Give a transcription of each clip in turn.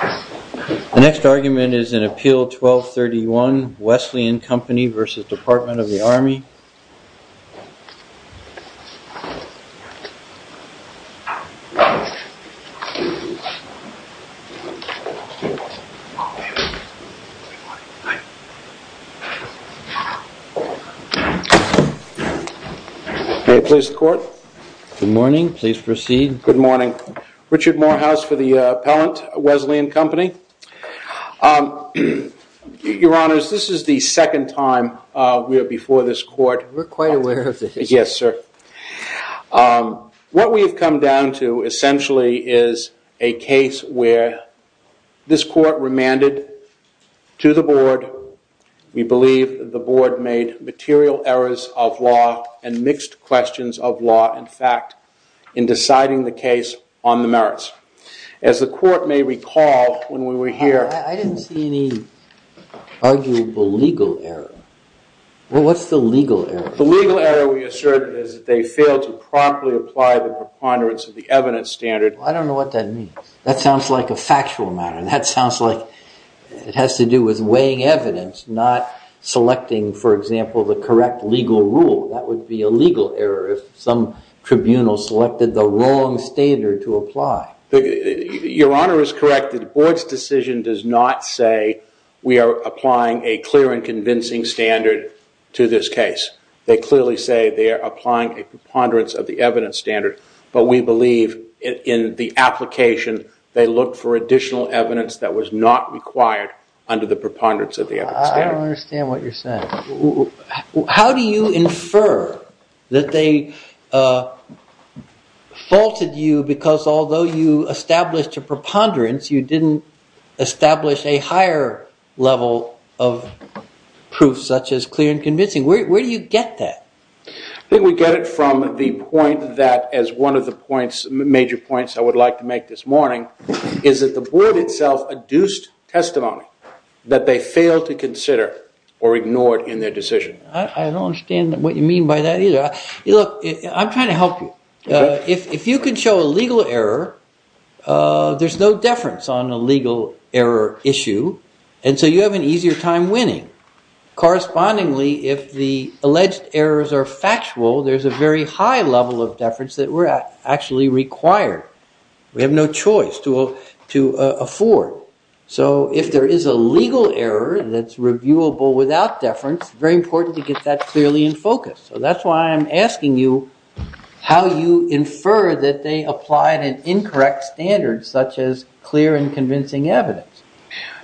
The next argument is in Appeal 1231, Wesleyan Company v. Department of the Army. May I please the court? Good morning. Please proceed. Good morning. Richard Morehouse for the appellant, Wesleyan Company. Your honors, this is the second time we are before this court. We're quite aware of this. Yes, sir. What we've come down to essentially is a case where this court remanded to the board, we believe the board made material errors of law and mixed questions of law. In fact, in deciding the case on the merits. As the court may recall, when we were here... I didn't see any arguable legal error. Well, what's the legal error? The legal error we assert is that they failed to promptly apply the preponderance of the evidence standard. I don't know what that means. That sounds like a factual matter. That sounds like it has to do with weighing evidence, not selecting, for example, the correct legal rule. That would be a legal error if some tribunal selected the wrong standard to apply. Your honor is correct. The board's decision does not say we are applying a clear and convincing standard to this case. They clearly say they are applying a preponderance of the evidence standard, but we believe in the application they look for additional evidence that was not required under the preponderance of the evidence standard. I don't understand what you're saying. How do you infer that they faulted you because although you established a preponderance, you didn't establish a higher level of proof such as clear and convincing? Where do you get that? I think we get it from the point that, as one of the major points I would like to make this morning, is that the board itself adduced testimony that they failed to consider or ignored in their decision. I don't understand what you mean by that either. Look, I'm trying to help you. If you can show a legal error, there's no deference on a legal error issue, and so you have an easier time winning. Correspondingly, if the alleged errors are factual, there's a very high level of deference that we're actually required. We have no choice to afford. So if there is a legal error that's reviewable without deference, it's very important to get that clearly in focus. So that's why I'm asking you how you infer that they applied an incorrect standard such as clear and convincing evidence.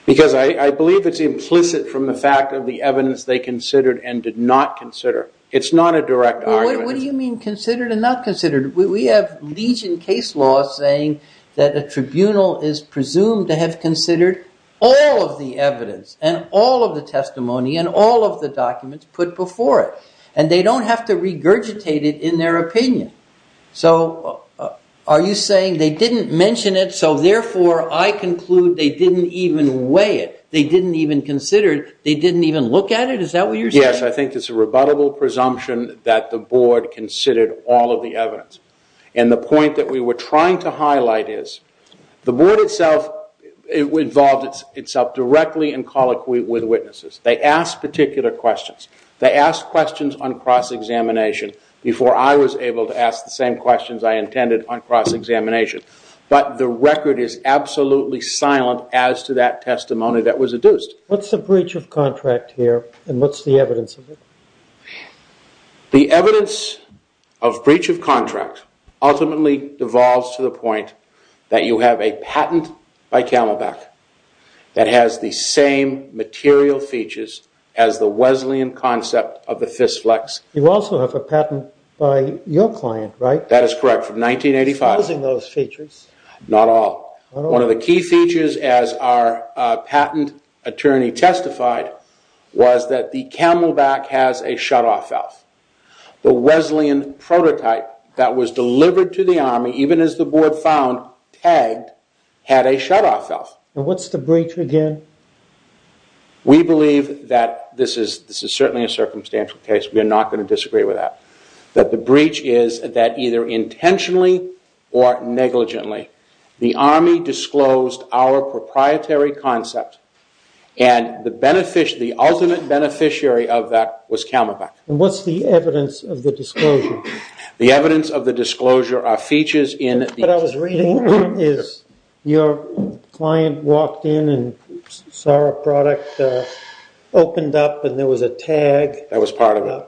Because I believe it's implicit from the fact of the evidence they considered and did not consider. It's not a direct argument. What do you mean considered and not considered? We have legion case law saying that a tribunal is presumed to have considered all of the evidence and all of the testimony and all of the documents put before it, and they don't have to regurgitate it in their opinion. So are you saying they didn't mention it, so therefore I conclude they didn't even weigh it? They didn't even consider it? They didn't even look at it? Is that what you're saying? Yes, I think it's a rebuttable presumption that the board considered all of the evidence. And the point that we were trying to highlight is the board itself involved itself directly in colloquy with witnesses. They asked particular questions. They asked questions on cross-examination before I was able to ask the same questions I intended on cross-examination. But the record is absolutely silent as to that testimony that was adduced. What's the breach of contract here and what's the evidence of it? The evidence of breach of contract ultimately devolves to the point that you have a patent by Camelback that has the same material features as the Wesleyan concept of the fist flex. You also have a patent by your client, right? That is correct, from 1985. Using those features. Not all. Not all. One of the key features, as our patent attorney testified, was that the Camelback has a shutoff valve. The Wesleyan prototype that was delivered to the Army, even as the board found tagged, had a shutoff valve. And what's the breach again? We believe that this is certainly a circumstantial case. We are not going to disagree with that. But the breach is that either intentionally or negligently the Army disclosed our proprietary concept and the ultimate beneficiary of that was Camelback. And what's the evidence of the disclosure? The evidence of the disclosure are features in the- What I was reading is your client walked in and saw our product opened up and there was a tag. That was part of it.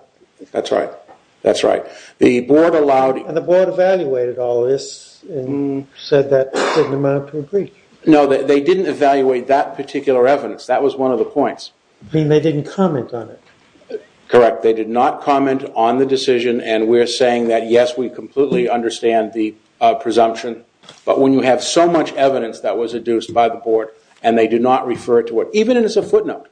That's right. That's right. The board allowed- And the board evaluated all this and said that it didn't amount to a breach. No, they didn't evaluate that particular evidence. That was one of the points. You mean they didn't comment on it? Correct. They did not comment on the decision and we're saying that, yes, we completely understand the presumption. But when you have so much evidence that was adduced by the board and they do not refer to it, even as a footnote,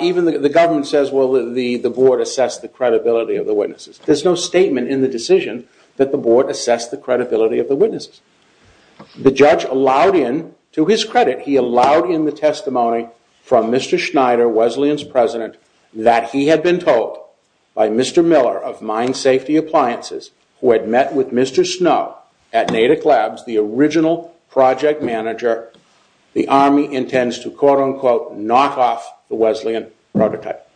even the government says, well, the board assessed the credibility of the witnesses. There's no statement in the decision that the board assessed the credibility of the witnesses. The judge allowed in, to his credit, he allowed in the testimony from Mr. Schneider, Wesleyan's president, that he had been told by Mr. Miller of Mine Safety Appliances who had met with Mr. Snow at Natick Labs, the original project manager, the Army intends to, quote unquote, knock off the Wesleyan prototype.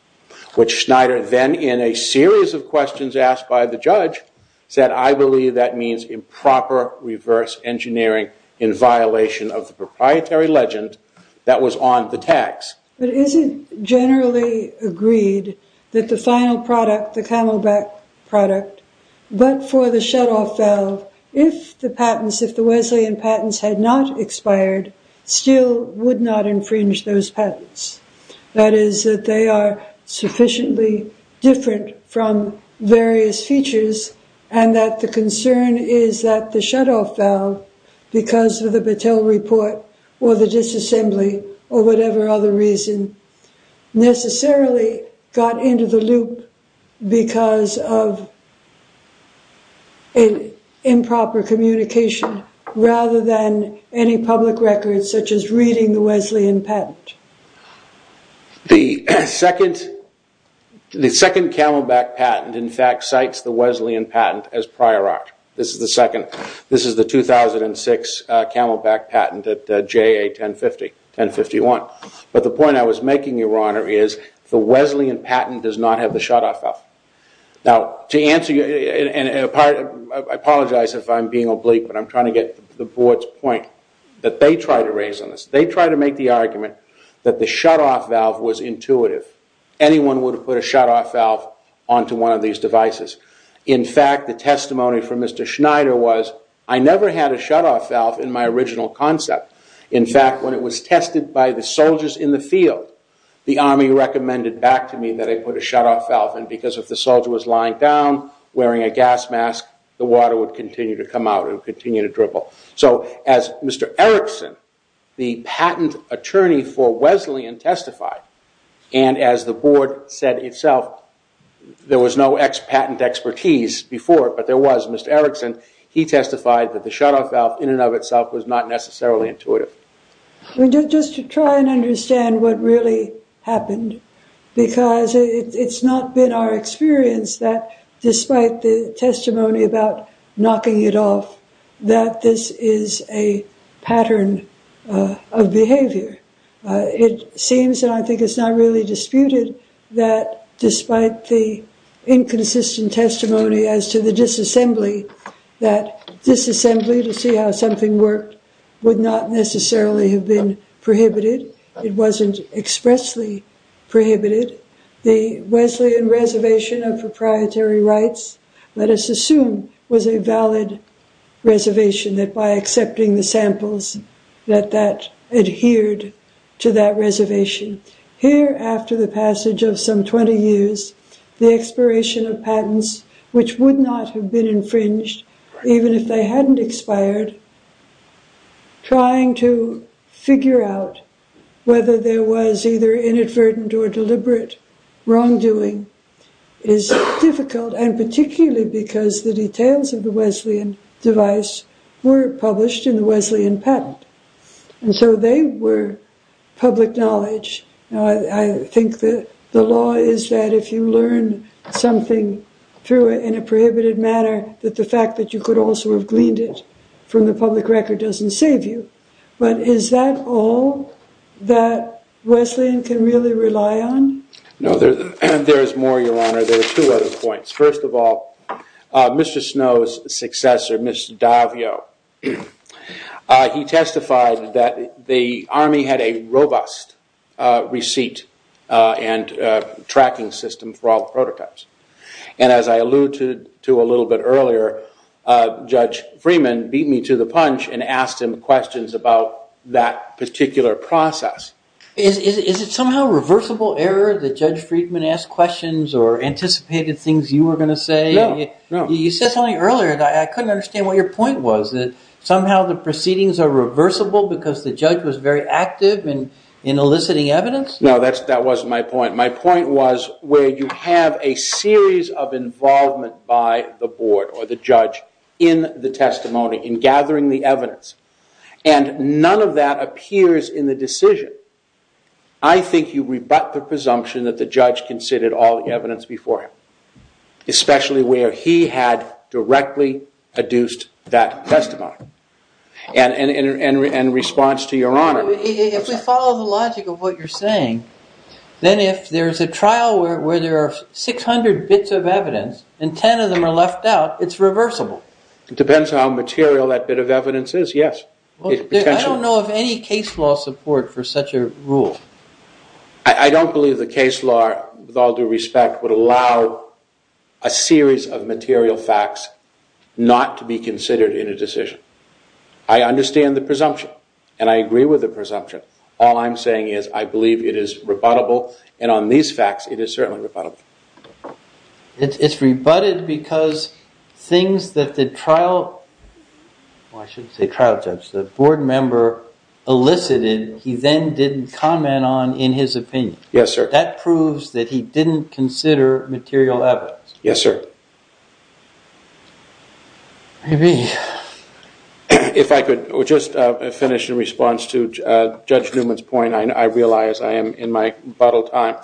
Which Schneider then, in a series of questions asked by the judge, said, I believe that means improper reverse engineering in violation of the proprietary legend that was on the tax. But is it generally agreed that the final product, the Camelback product, but for the shutoff valve, if the patents, if the Wesleyan patents had not expired, still would not infringe those patents? That is, that they are sufficiently different from various features and that the concern is that the shutoff valve, because of the Battelle report or the disassembly or whatever other reason, necessarily got into the loop because of improper communication, rather than any public records such as reading the Wesleyan patent. The second Camelback patent, in fact, cites the Wesleyan patent as prior art. This is the 2006 Camelback patent at JA 1051. But the point I was making, Your Honor, is the Wesleyan patent does not have the shutoff valve. Now, to answer you, and I apologize if I'm being oblique, but I'm trying to get the board's point that they try to raise on this. They try to make the argument that the shutoff valve was intuitive. Anyone would have put a shutoff valve onto one of these devices. In fact, the testimony from Mr. Schneider was, I never had a shutoff valve in my original concept. In fact, when it was tested by the soldiers in the field, the Army recommended back to me that I put a shutoff valve because if the soldier was lying down wearing a gas mask, the water would continue to come out and continue to dribble. So as Mr. Erickson, the patent attorney for Wesleyan, testified, and as the board said itself, there was no patent expertise before, but there was. Mr. Erickson, he testified that the shutoff valve in and of itself was not necessarily intuitive. Just to try and understand what really happened, because it's not been our experience that, despite the testimony about knocking it off, that this is a pattern of behavior. It seems, and I think it's not really disputed, that despite the inconsistent testimony as to the disassembly, that disassembly to see how something worked would not necessarily have been prohibited. It wasn't expressly prohibited. The Wesleyan reservation of proprietary rights, let us assume, was a valid reservation that by accepting the samples, that that adhered to that reservation. Here, after the passage of some 20 years, the expiration of patents, which would not have been infringed, even if they hadn't expired, trying to figure out whether there was either inadvertent or deliberate wrongdoing, is difficult, and particularly because the details of the Wesleyan device were published in the Wesleyan patent. And so they were public knowledge. I think that the law is that if you learn something through it in a prohibited manner, that the fact that you could also have gleaned it from the public record doesn't save you. But is that all that Wesleyan can really rely on? No, there is more, Your Honor. There are two other points. First of all, Mr. Snow's successor, Mr. Daviau, he testified that the Army had a robust receipt and tracking system for all the prototypes. And as I alluded to a little bit earlier, Judge Freeman beat me to the punch and asked him questions about that particular process. Is it somehow reversible error that Judge Freeman asked questions or anticipated things you were going to say? No, no. You said something earlier that I couldn't understand what your point was, that somehow the proceedings are reversible because the judge was very active in eliciting evidence? No, that wasn't my point. My point was where you have a series of involvement by the board or the judge in the testimony, in gathering the evidence, and none of that appears in the decision. I think you rebut the presumption that the judge considered all the evidence before him, especially where he had directly adduced that testimony. And in response to Your Honor- If we follow the logic of what you're saying, then if there's a trial where there are 600 bits of evidence and 10 of them are left out, it's reversible. It depends on how material that bit of evidence is, yes. I don't know of any case law support for such a rule. I don't believe the case law, with all due respect, would allow a series of material facts not to be considered in a decision. I understand the presumption, and I agree with the presumption. All I'm saying is I believe it is rebuttable, and on these facts it is certainly rebuttable. It's rebutted because things that the trial- I shouldn't say trial judge, the board member elicited he then didn't comment on in his opinion. Yes, sir. That proves that he didn't consider material evidence. Yes, sir. If I could just finish in response to Judge Newman's point, I realize I am in my bottle time.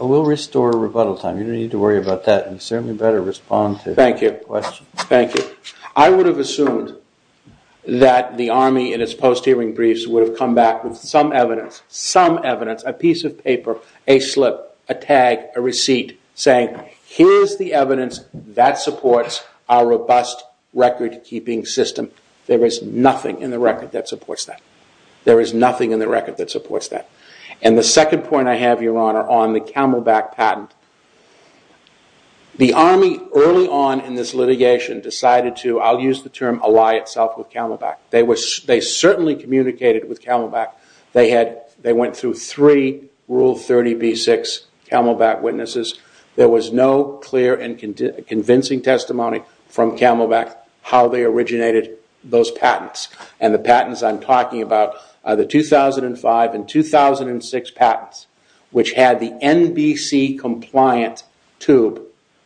We'll restore rebuttal time. You don't need to worry about that. You certainly better respond to the question. Thank you. I would have assumed that the Army in its post-hearing briefs would have come back with some evidence, some evidence, a piece of paper, a slip, a tag, a receipt saying, here's the evidence that supports our robust record-keeping system. There is nothing in the record that supports that. There is nothing in the record that supports that. The second point I have, Your Honor, on the Camelback patent. The Army early on in this litigation decided to, I'll use the term, ally itself with Camelback. They certainly communicated with Camelback. They went through three Rule 30B-6 Camelback witnesses. There was no clear and convincing testimony from Camelback how they originated those patents. The patents I'm talking about are the 2005 and 2006 patents, which had the NBC compliant tube.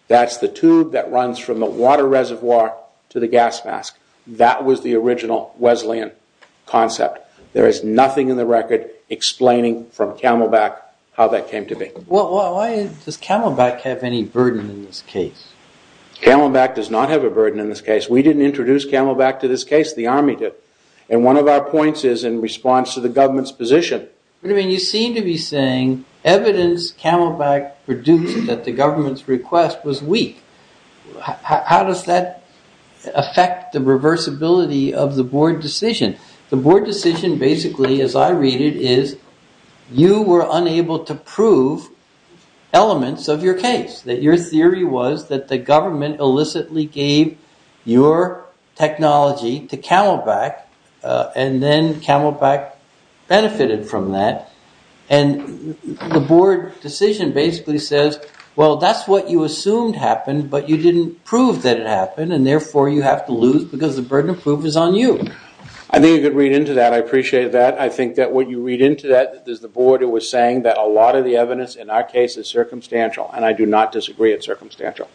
That's the tube that runs from the water reservoir to the gas mask. That was the original Wesleyan concept. There is nothing in the record explaining from Camelback how that came to be. Why does Camelback have any burden in this case? Camelback does not have a burden in this case. We didn't introduce Camelback to this case. The Army did. One of our points is in response to the government's position. You seem to be saying evidence Camelback produced at the government's request was weak. How does that affect the reversibility of the board decision? The board decision basically, as I read it, is you were unable to prove elements of your case. Your theory was that the government illicitly gave your technology to Camelback. Then Camelback benefited from that. The board decision basically says, well, that's what you assumed happened, but you didn't prove that it happened. Therefore, you have to lose because the burden of proof is on you. I think you could read into that. I appreciate that. I think that what you read into that is the board was saying that a lot of the evidence in our case is circumstantial. I do not disagree it's circumstantial.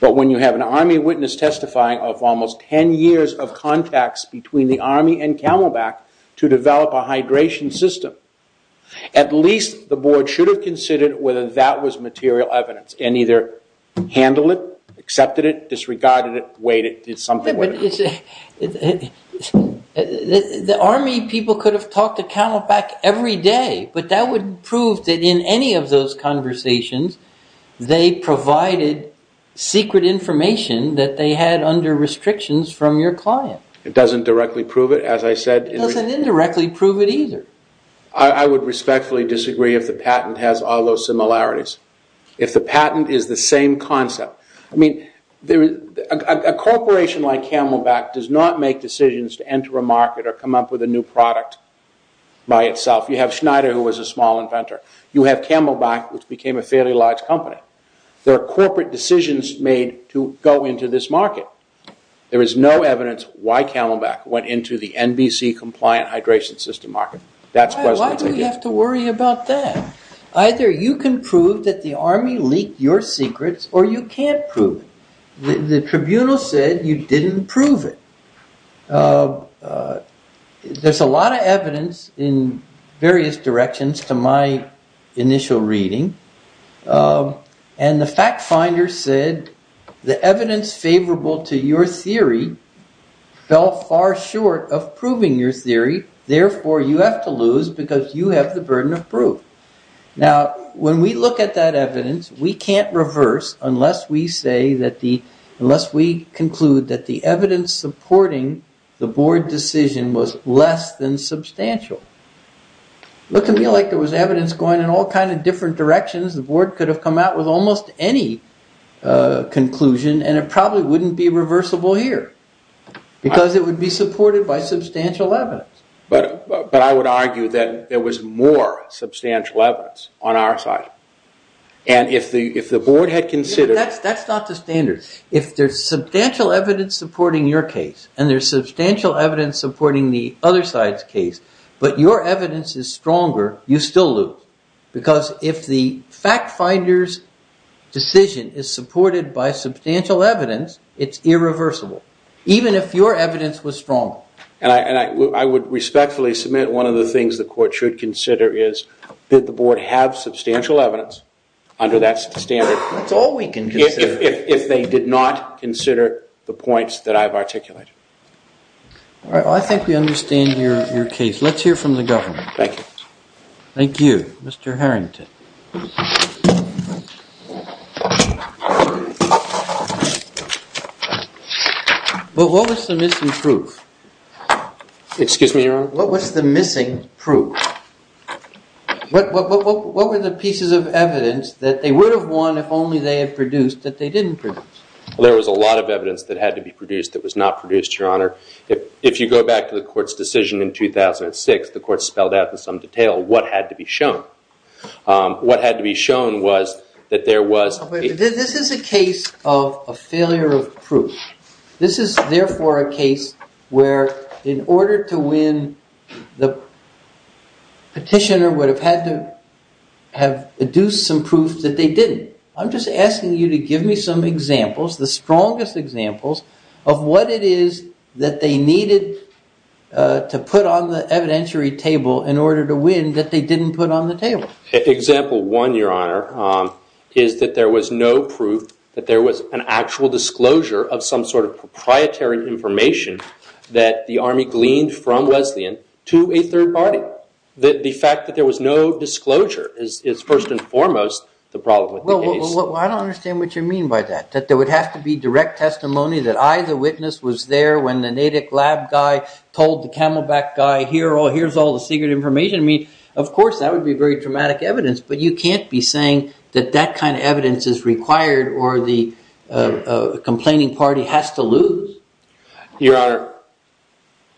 When you have an Army witness testifying of almost 10 years of contacts between the Army and Camelback to develop a hydration system, at least the board should have considered whether that was material evidence and either handled it, accepted it, disregarded it, waited, did something with it. The Army people could have talked to Camelback every day, but that would prove that in any of those conversations, they provided secret information that they had under restrictions from your client. It doesn't directly prove it, as I said. It doesn't indirectly prove it either. I would respectfully disagree if the patent has all those similarities, if the patent is the same concept. A corporation like Camelback does not make decisions to enter a market or come up with a new product by itself. You have Schneider, who was a small inventor. You have Camelback, which became a fairly large company. There are corporate decisions made to go into this market. There is no evidence why Camelback went into the NBC compliant hydration system market. Why do we have to worry about that? Either you can prove that the Army leaked your secrets or you can't prove it. The tribunal said you didn't prove it. There's a lot of evidence in various directions to my initial reading. The fact finder said the evidence favorable to your theory fell far short of proving your theory. Therefore, you have to lose because you have the burden of proof. Now, when we look at that evidence, we can't reverse unless we conclude that the evidence supporting the board decision was less than substantial. It looked to me like there was evidence going in all kinds of different directions. The board could have come out with almost any conclusion and it probably wouldn't be reversible here because it would be supported by substantial evidence. But I would argue that there was more substantial evidence on our side. That's not the standard. If there's substantial evidence supporting your case and there's substantial evidence supporting the other side's case, but your evidence is stronger, you still lose. Because if the fact finder's decision is supported by substantial evidence, it's irreversible, even if your evidence was stronger. I would respectfully submit one of the things the court should consider is did the board have substantial evidence under that standard? That's all we can do. If they did not consider the points that I've articulated. I think we understand your case. Let's hear from the government. Thank you. Thank you, Mr. Harrington. Well, what was the missing proof? Excuse me, Your Honor? What was the missing proof? What were the pieces of evidence that they would have won if only they had produced that they didn't produce? Well, there was a lot of evidence that had to be produced that was not produced, Your Honor. If you go back to the court's decision in 2006, the court spelled out in some detail what had to be shown. What had to be shown was that there was... This is a case of a failure of proof. This is, therefore, a case where in order to win, the petitioner would have had to have produced some proof that they didn't. I'm just asking you to give me some examples, the strongest examples, of what it is that they needed to put on the evidentiary table in order to win that they didn't put on the table. Example one, Your Honor, is that there was no proof that there was an actual disclosure of some sort of proprietary information that the Army gleaned from Wesleyan to a third party. The fact that there was no disclosure is, first and foremost, the problem with the case. Well, I don't understand what you mean by that. That there would have to be direct testimony, that I, the witness, was there when the Natick lab guy told the Camelback guy, here's all the secret information. I mean, of course, that would be very dramatic evidence, but you can't be saying that that kind of evidence is required or the complaining party has to lose. Your Honor,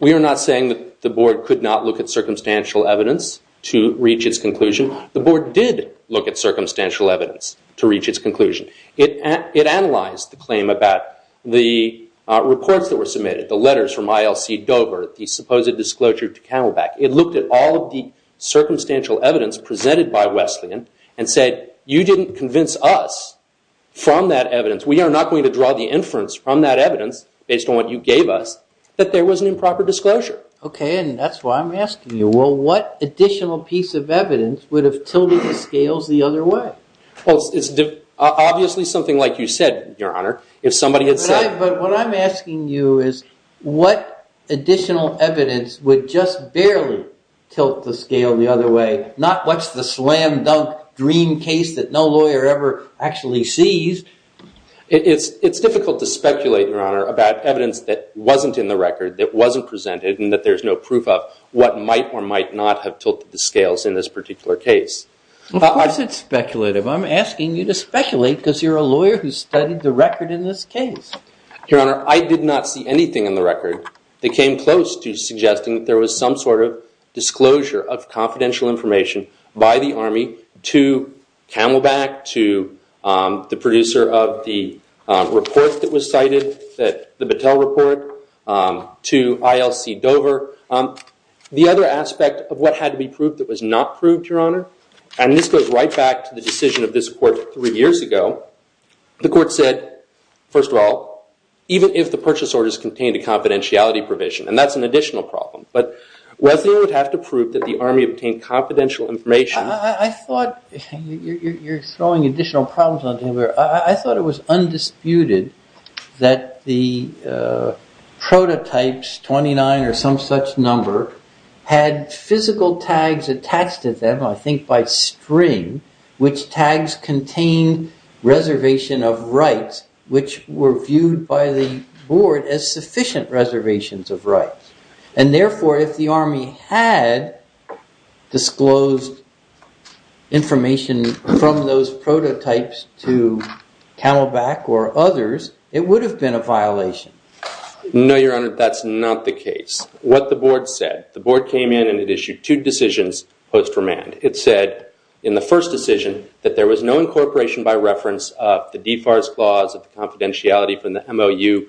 we are not saying that the board could not look at circumstantial evidence to reach its conclusion. The board did look at circumstantial evidence to reach its conclusion. It analyzed the claim about the reports that were submitted, the letters from ILC Dover, the supposed disclosure to Camelback. It looked at all of the circumstantial evidence presented by Wesleyan and said, you didn't convince us from that evidence. We are not going to draw the inference from that evidence, based on what you gave us, that there was an improper disclosure. Okay, and that's why I'm asking you, well, what additional piece of evidence would have tilted the scales the other way? Well, it's obviously something like you said, Your Honor, if somebody had said... But what I'm asking you is what additional evidence would just barely tilt the scale the other way, not what's the slam dunk dream case that no lawyer ever actually sees. It's difficult to speculate, Your Honor, about evidence that wasn't in the record, that wasn't presented, and that there's no proof of what might or might not have tilted the scales in this particular case. Of course it's speculative. I'm asking you to speculate because you're a lawyer who studied the record in this case. Your Honor, I did not see anything in the record that came close to suggesting that there was some sort of disclosure of confidential information by the Army to Camelback, to the producer of the report that was cited, the Battelle report, to ILC Dover. The other aspect of what had to be proved that was not proved, Your Honor, and this goes right back to the decision of this court three years ago, the court said, first of all, even if the purchase orders contained a confidentiality provision, and that's an additional problem, but Wesleyan would have to prove that the Army obtained confidential information... You're throwing additional problems on the table here. I thought it was undisputed that the prototypes, 29 or some such number, had physical tags attached to them, I think by string, which tags contained reservation of rights, which were viewed by the board as sufficient reservations of rights. Therefore, if the Army had disclosed information from those prototypes to Camelback or others, it would have been a violation. No, Your Honor, that's not the case. What the board said, the board came in and it issued two decisions post remand. It said in the first decision that there was no incorporation by reference of the DFARS clause of confidentiality from the MOU,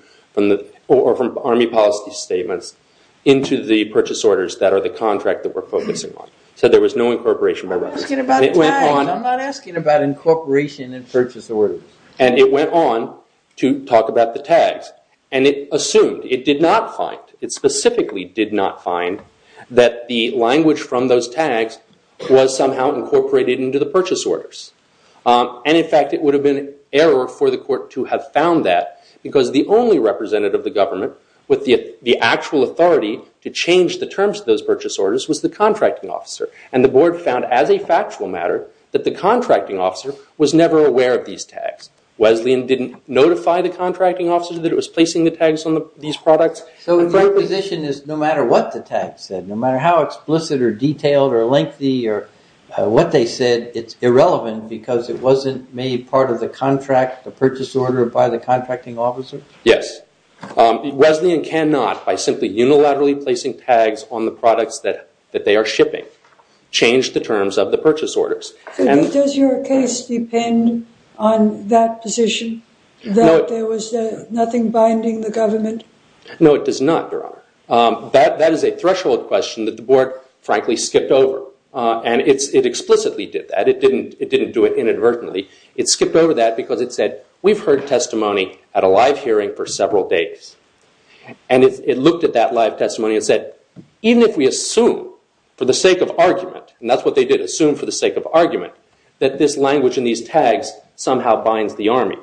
or from Army policy statements, into the purchase orders that are the contract that we're focusing on. It said there was no incorporation by reference. I'm not asking about tags. I'm not asking about incorporation in purchase orders. And it went on to talk about the tags, and it assumed, it did not find, it specifically did not find, that the language from those tags was somehow incorporated into the purchase orders. And, in fact, it would have been an error for the court to have found that, because the only representative of the government with the actual authority to change the terms of those purchase orders was the contracting officer. And the board found, as a factual matter, that the contracting officer was never aware of these tags. Wesleyan didn't notify the contracting officer that it was placing the tags on these products. So your position is no matter what the tags said, no matter how explicit or detailed or lengthy or what they said, it's irrelevant because it wasn't made part of the contract, the purchase order, by the contracting officer? Yes. Wesleyan cannot, by simply unilaterally placing tags on the products that they are shipping, change the terms of the purchase orders. Does your case depend on that position, that there was nothing binding the government? No, it does not, Your Honor. That is a threshold question that the board, frankly, skipped over. And it explicitly did that. It didn't do it inadvertently. It skipped over that because it said, we've heard testimony at a live hearing for several days. And it looked at that live testimony and said, even if we assume, for the sake of argument, and that's what they did, assume for the sake of argument, that this language in these tags somehow binds the Army.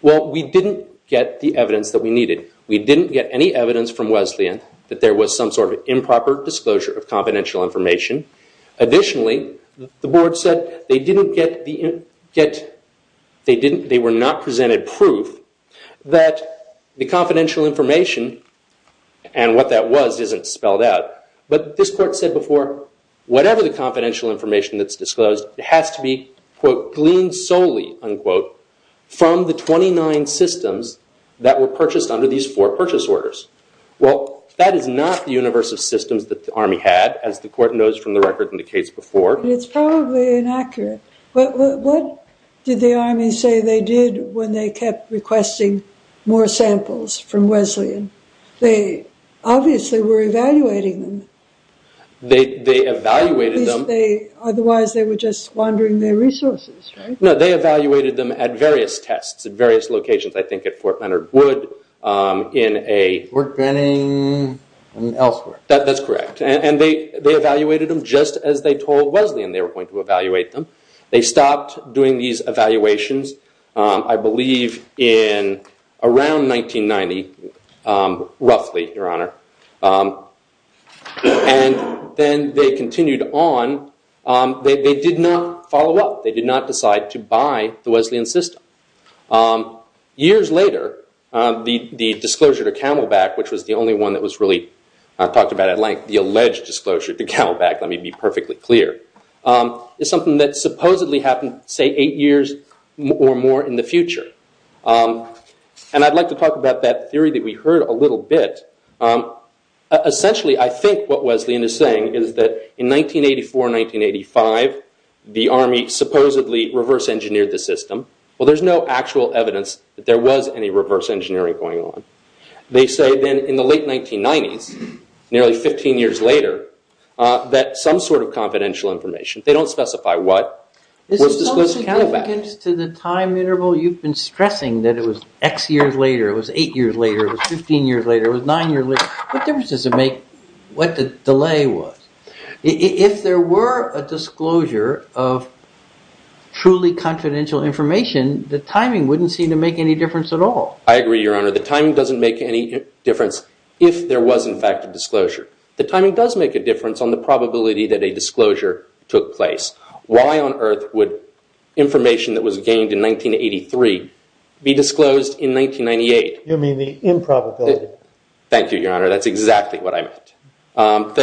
Well, we didn't get the evidence that we needed. We didn't get any evidence from Wesleyan that there was some sort of improper disclosure of confidential information. Additionally, the board said they were not presented proof that the confidential information and what that was isn't spelled out. But this court said before, whatever the confidential information that's disclosed has to be, quote, gleaned solely, unquote, from the 29 systems that were purchased under these four purchase orders. Well, that is not the universe of systems that the Army had, as the court knows from the record in the case before. It's probably inaccurate. What did the Army say they did when they kept requesting more samples from Wesleyan? They obviously were evaluating them. They evaluated them. Otherwise, they were just squandering their resources, right? No, they evaluated them at various tests, at various locations, I think at Fort Leonard Wood, in a- Fort Benning and elsewhere. That's correct. And they evaluated them just as they told Wesleyan they were going to evaluate them. They stopped doing these evaluations, I believe, in around 1990. Roughly, Your Honor. And then they continued on. They did not follow up. They did not decide to buy the Wesleyan system. Years later, the disclosure to Camelback, which was the only one that was really talked about at length, the alleged disclosure to Camelback, let me be perfectly clear, is something that supposedly happened, say, eight years or more in the future. And I'd like to talk about that theory that we heard a little bit. Essentially, I think what Wesleyan is saying is that in 1984, 1985, the Army supposedly reverse engineered the system. Well, there's no actual evidence that there was any reverse engineering going on. They say then in the late 1990s, nearly 15 years later, that some sort of confidential information, they don't specify what, was disclosed to Camelback. But in addition to the time interval, you've been stressing that it was X years later, it was eight years later, it was 15 years later, it was nine years later. What difference does it make what the delay was? If there were a disclosure of truly confidential information, the timing wouldn't seem to make any difference at all. I agree, Your Honor. The timing doesn't make any difference if there was, in fact, a disclosure. The timing does make a difference on the probability that a disclosure took place. Why on earth would information that was gained in 1983 be disclosed in 1998? You mean the improbability? Thank you, Your Honor. That's exactly what I meant.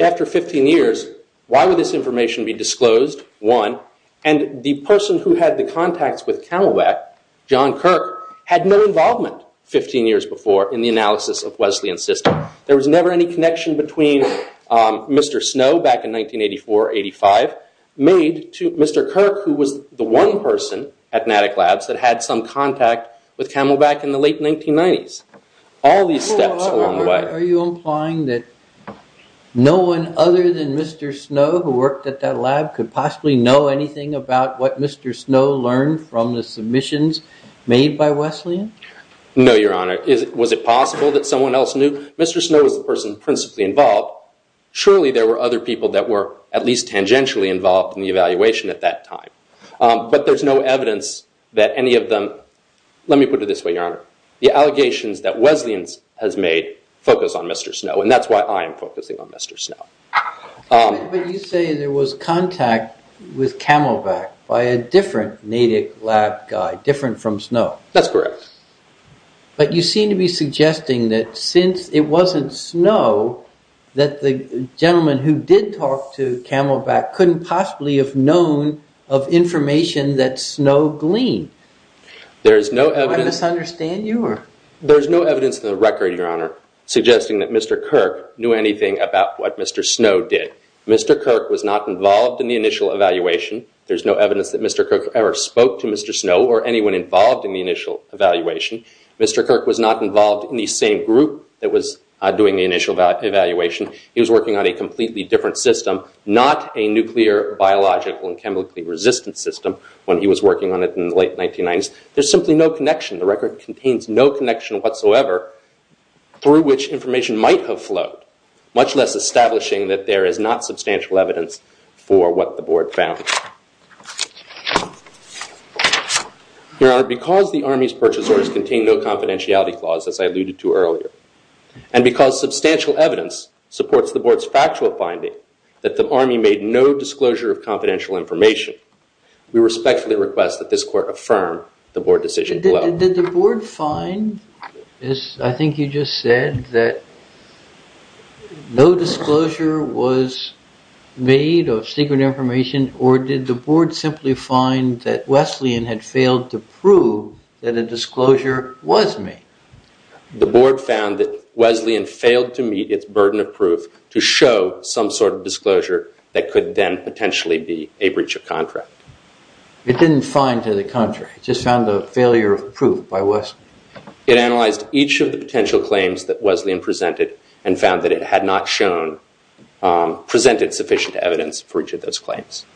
After 15 years, why would this information be disclosed, one, and the person who had the contacts with Camelback, John Kirk, had no involvement 15 years before in the analysis of Wesleyan's system. There was never any connection between Mr. Snow back in 1984, 85, made to Mr. Kirk, who was the one person at Natick Labs that had some contact with Camelback in the late 1990s. All these steps along the way. Are you implying that no one other than Mr. Snow, who worked at that lab, could possibly know anything about what Mr. Snow learned from the submissions made by Wesleyan? No, Your Honor. Was it possible that someone else knew? Mr. Snow was the person principally involved. Surely there were other people that were at least tangentially involved in the evaluation at that time. But there's no evidence that any of them—let me put it this way, Your Honor. The allegations that Wesleyan has made focus on Mr. Snow, and that's why I am focusing on Mr. Snow. But you say there was contact with Camelback by a different Natick Lab guy, different from Snow. That's correct. But you seem to be suggesting that since it wasn't Snow, that the gentleman who did talk to Camelback couldn't possibly have known of information that Snow gleaned. There is no evidence— Do I misunderstand you? There is no evidence in the record, Your Honor, suggesting that Mr. Kirk knew anything about what Mr. Snow did. Mr. Kirk was not involved in the initial evaluation. There's no evidence that Mr. Kirk ever spoke to Mr. Snow or anyone involved in the initial evaluation. Mr. Kirk was not involved in the same group that was doing the initial evaluation. He was working on a completely different system, not a nuclear, biological, and chemically resistant system, when he was working on it in the late 1990s. There's simply no connection. The record contains no connection whatsoever through which information might have flowed, much less establishing that there is not substantial evidence for what the Board found. Your Honor, because the Army's purchase orders contain no confidentiality clause, as I alluded to earlier, and because substantial evidence supports the Board's factual finding that the Army made no disclosure of confidential information, we respectfully request that this Court affirm the Board decision below. Did the Board find, as I think you just said, that no disclosure was made of secret information, or did the Board simply find that Wesleyan had failed to prove that a disclosure was made? The Board found that Wesleyan failed to meet its burden of proof to show some sort of disclosure that could then potentially be a breach of contract. It didn't find to the contrary. It just found a failure of proof by Wesleyan. It analyzed each of the potential claims that Wesleyan presented and found that it had not presented sufficient evidence for each of those claims,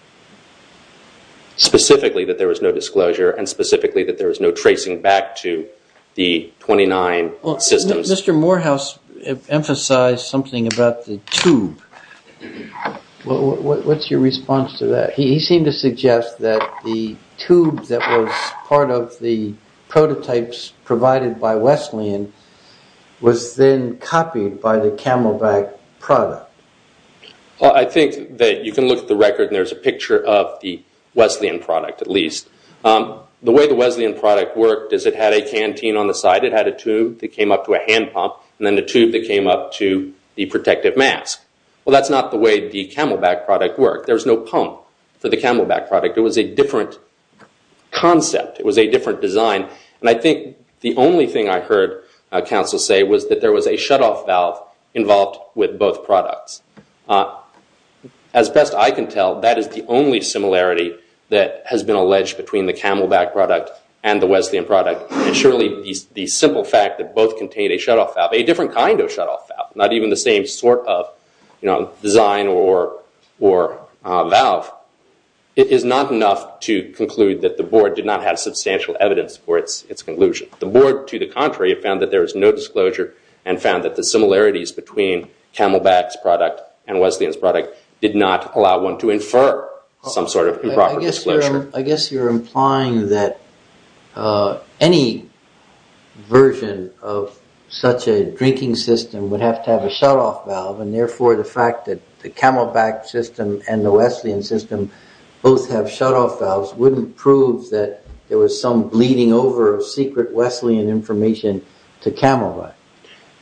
specifically that there was no disclosure and specifically that there was no tracing back to the 29 systems. Mr. Morehouse emphasized something about the tube. What's your response to that? He seemed to suggest that the tube that was part of the prototypes provided by Wesleyan was then copied by the Camelbak product. I think that you can look at the record and there's a picture of the Wesleyan product, at least. The way the Wesleyan product worked is it had a canteen on the side. It had a tube that came up to a hand pump and then a tube that came up to the protective mask. Well, that's not the way the Camelbak product worked. There was no pump for the Camelbak product. It was a different concept. It was a different design. I think the only thing I heard counsel say was that there was a shutoff valve involved with both products. As best I can tell, that is the only similarity that has been alleged between the Camelbak product and the Wesleyan product. Surely, the simple fact that both contained a shutoff valve, a different kind of shutoff valve, not even the same sort of design or valve, is not enough to conclude that the Board did not have substantial evidence for its conclusion. The Board, to the contrary, found that there was no disclosure and found that the similarities between Camelbak's product and Wesleyan's product did not allow one to infer some sort of improper disclosure. I guess you're implying that any version of such a drinking system would have to have a shutoff valve and therefore the fact that the Camelbak system and the Wesleyan system both have shutoff valves wouldn't prove that there was some bleeding over of secret Wesleyan information to Camelbak.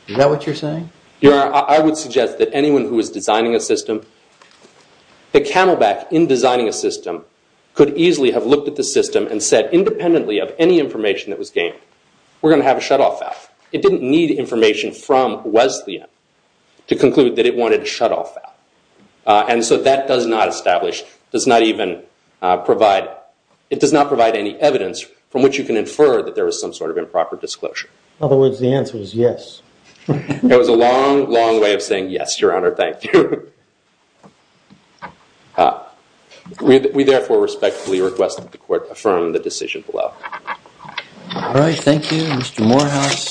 Is that what you're saying? I would suggest that anyone who is designing a system, that Camelbak, in designing a system, could easily have looked at the system and said independently of any information that was gained, we're going to have a shutoff valve. It didn't need information from Wesleyan to conclude that it wanted a shutoff valve. And so that does not establish, does not even provide, it does not provide any evidence from which you can infer that there was some sort of improper disclosure. In other words, the answer is yes. It was a long, long way of saying yes, Your Honor, thank you. We therefore respectfully request that the court affirm the decision below. All right, thank you. Mr. Morehouse.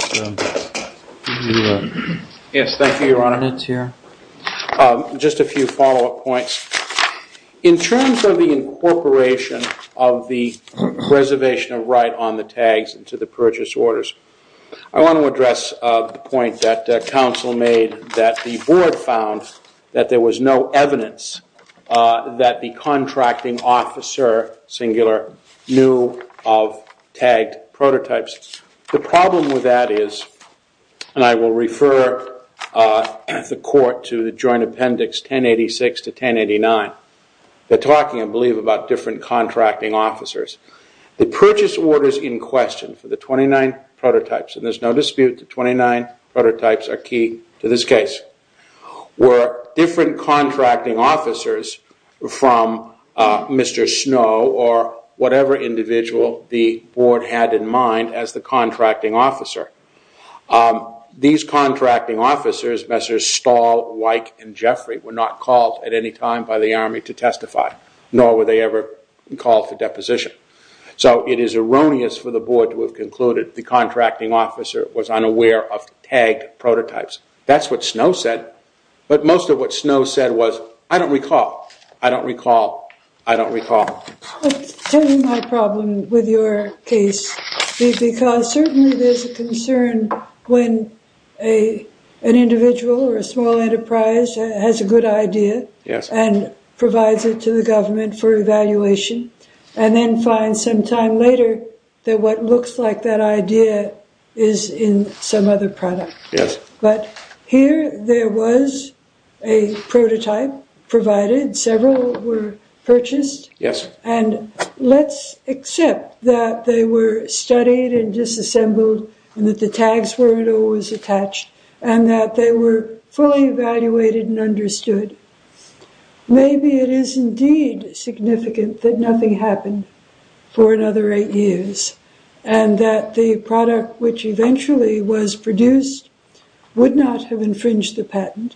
Yes, thank you, Your Honor. Just a few follow-up points. In terms of the incorporation of the reservation of right on the tags to the purchase orders, I want to address the point that counsel made that the board found that there was no evidence that the contracting officer, singular, knew of tagged prototypes. The problem with that is, and I will refer the court to the joint appendix 1086 to 1089. They're talking, I believe, about different contracting officers. The purchase orders in question for the 29 prototypes, and there's no dispute that 29 prototypes are key to this case, were different contracting officers from Mr. Snow or whatever individual the board had in mind as the contracting officer. These contracting officers, Messrs. Stahl, Weick, and Jeffrey, were not called at any time by the Army to testify, nor were they ever called for deposition. So it is erroneous for the board to have concluded the contracting officer was unaware of tagged prototypes. That's what Snow said, but most of what Snow said was, I don't recall, I don't recall, I don't recall. My problem with your case is because certainly there's a concern when an individual or a small enterprise has a good idea and provides it to the government for evaluation, and then finds some time later that what looks like that idea is in some other product. But here there was a prototype provided, several were purchased, and let's accept that they were studied and disassembled, and that the tags weren't always attached, and that they were fully evaluated and understood. Maybe it is indeed significant that nothing happened for another eight years, and that the product which eventually was produced would not have infringed the patent.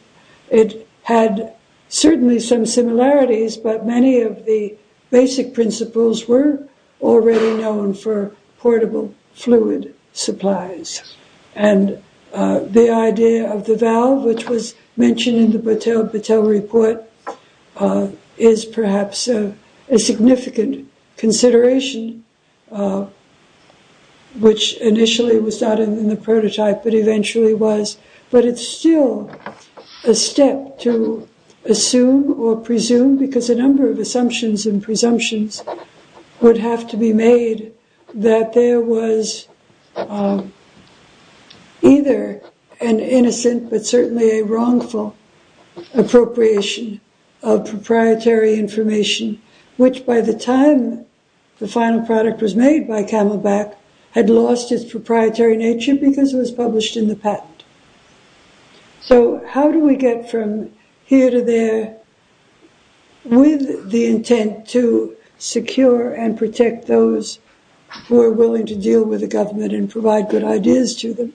It had certainly some similarities, but many of the basic principles were already known for portable fluid supplies. And the idea of the valve, which was mentioned in the Battelle report, is perhaps a significant consideration, which initially was not in the prototype, but eventually was. But it's still a step to assume or presume, because a number of assumptions and presumptions would have to be made that there was either an innocent but certainly a wrongful appropriation of proprietary information, which by the time the final product was made by Camelback had lost its proprietary nature because it was published in the patent. So how do we get from here to there with the intent to secure and protect those who are willing to deal with the government and provide good ideas to them?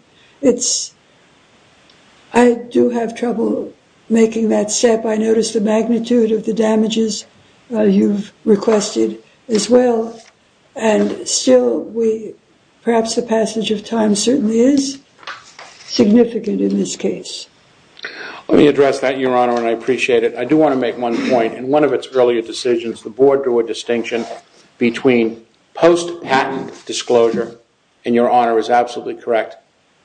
I do have trouble making that step. I notice the magnitude of the damages you've requested as well, and still perhaps the passage of time certainly is significant in this case. Let me address that, Your Honor, and I appreciate it. I do want to make one point. In one of its earlier decisions, the board drew a distinction between post-patent disclosure, and Your Honor is absolutely correct,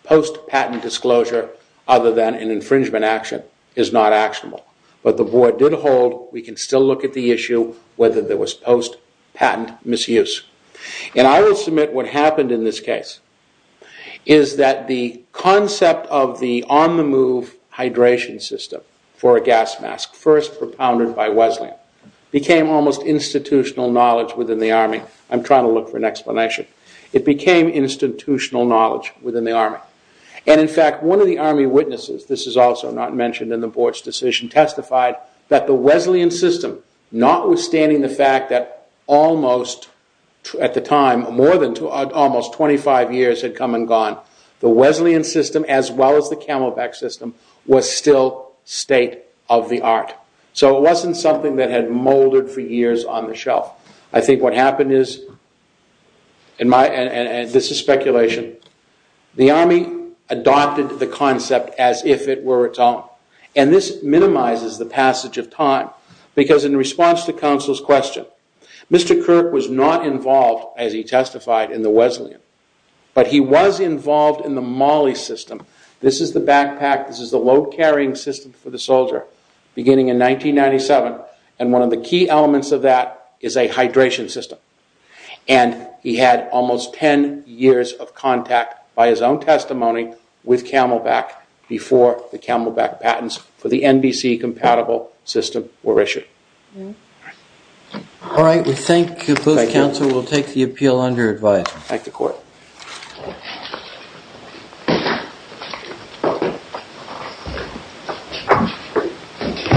post-patent disclosure other than an infringement action is not actionable. But the board did hold, we can still look at the issue, whether there was post-patent misuse. And I will submit what happened in this case is that the concept of the on-the-move hydration system for a gas mask, first propounded by Wesleyan, became almost institutional knowledge within the Army. I'm trying to look for an explanation. It became institutional knowledge within the Army. And in fact, one of the Army witnesses, this is also not mentioned in the board's decision, testified that the Wesleyan system, notwithstanding the fact that almost at the time, more than almost 25 years had come and gone, the Wesleyan system as well as the Camelback system was still state of the art. So it wasn't something that had molded for years on the shelf. I think what happened is, and this is speculation, the Army adopted the concept as if it were its own. And this minimizes the passage of time. Because in response to counsel's question, Mr. Kirk was not involved, as he testified, in the Wesleyan. But he was involved in the MOLLE system. This is the backpack, this is the load carrying system for the soldier, beginning in 1997. And one of the key elements of that is a hydration system. And he had almost 10 years of contact, by his own testimony, with Camelback before the Camelback patents for the NBC-compatible system were issued. All right, we thank you both. Counsel will take the appeal under advice. Thank you, court.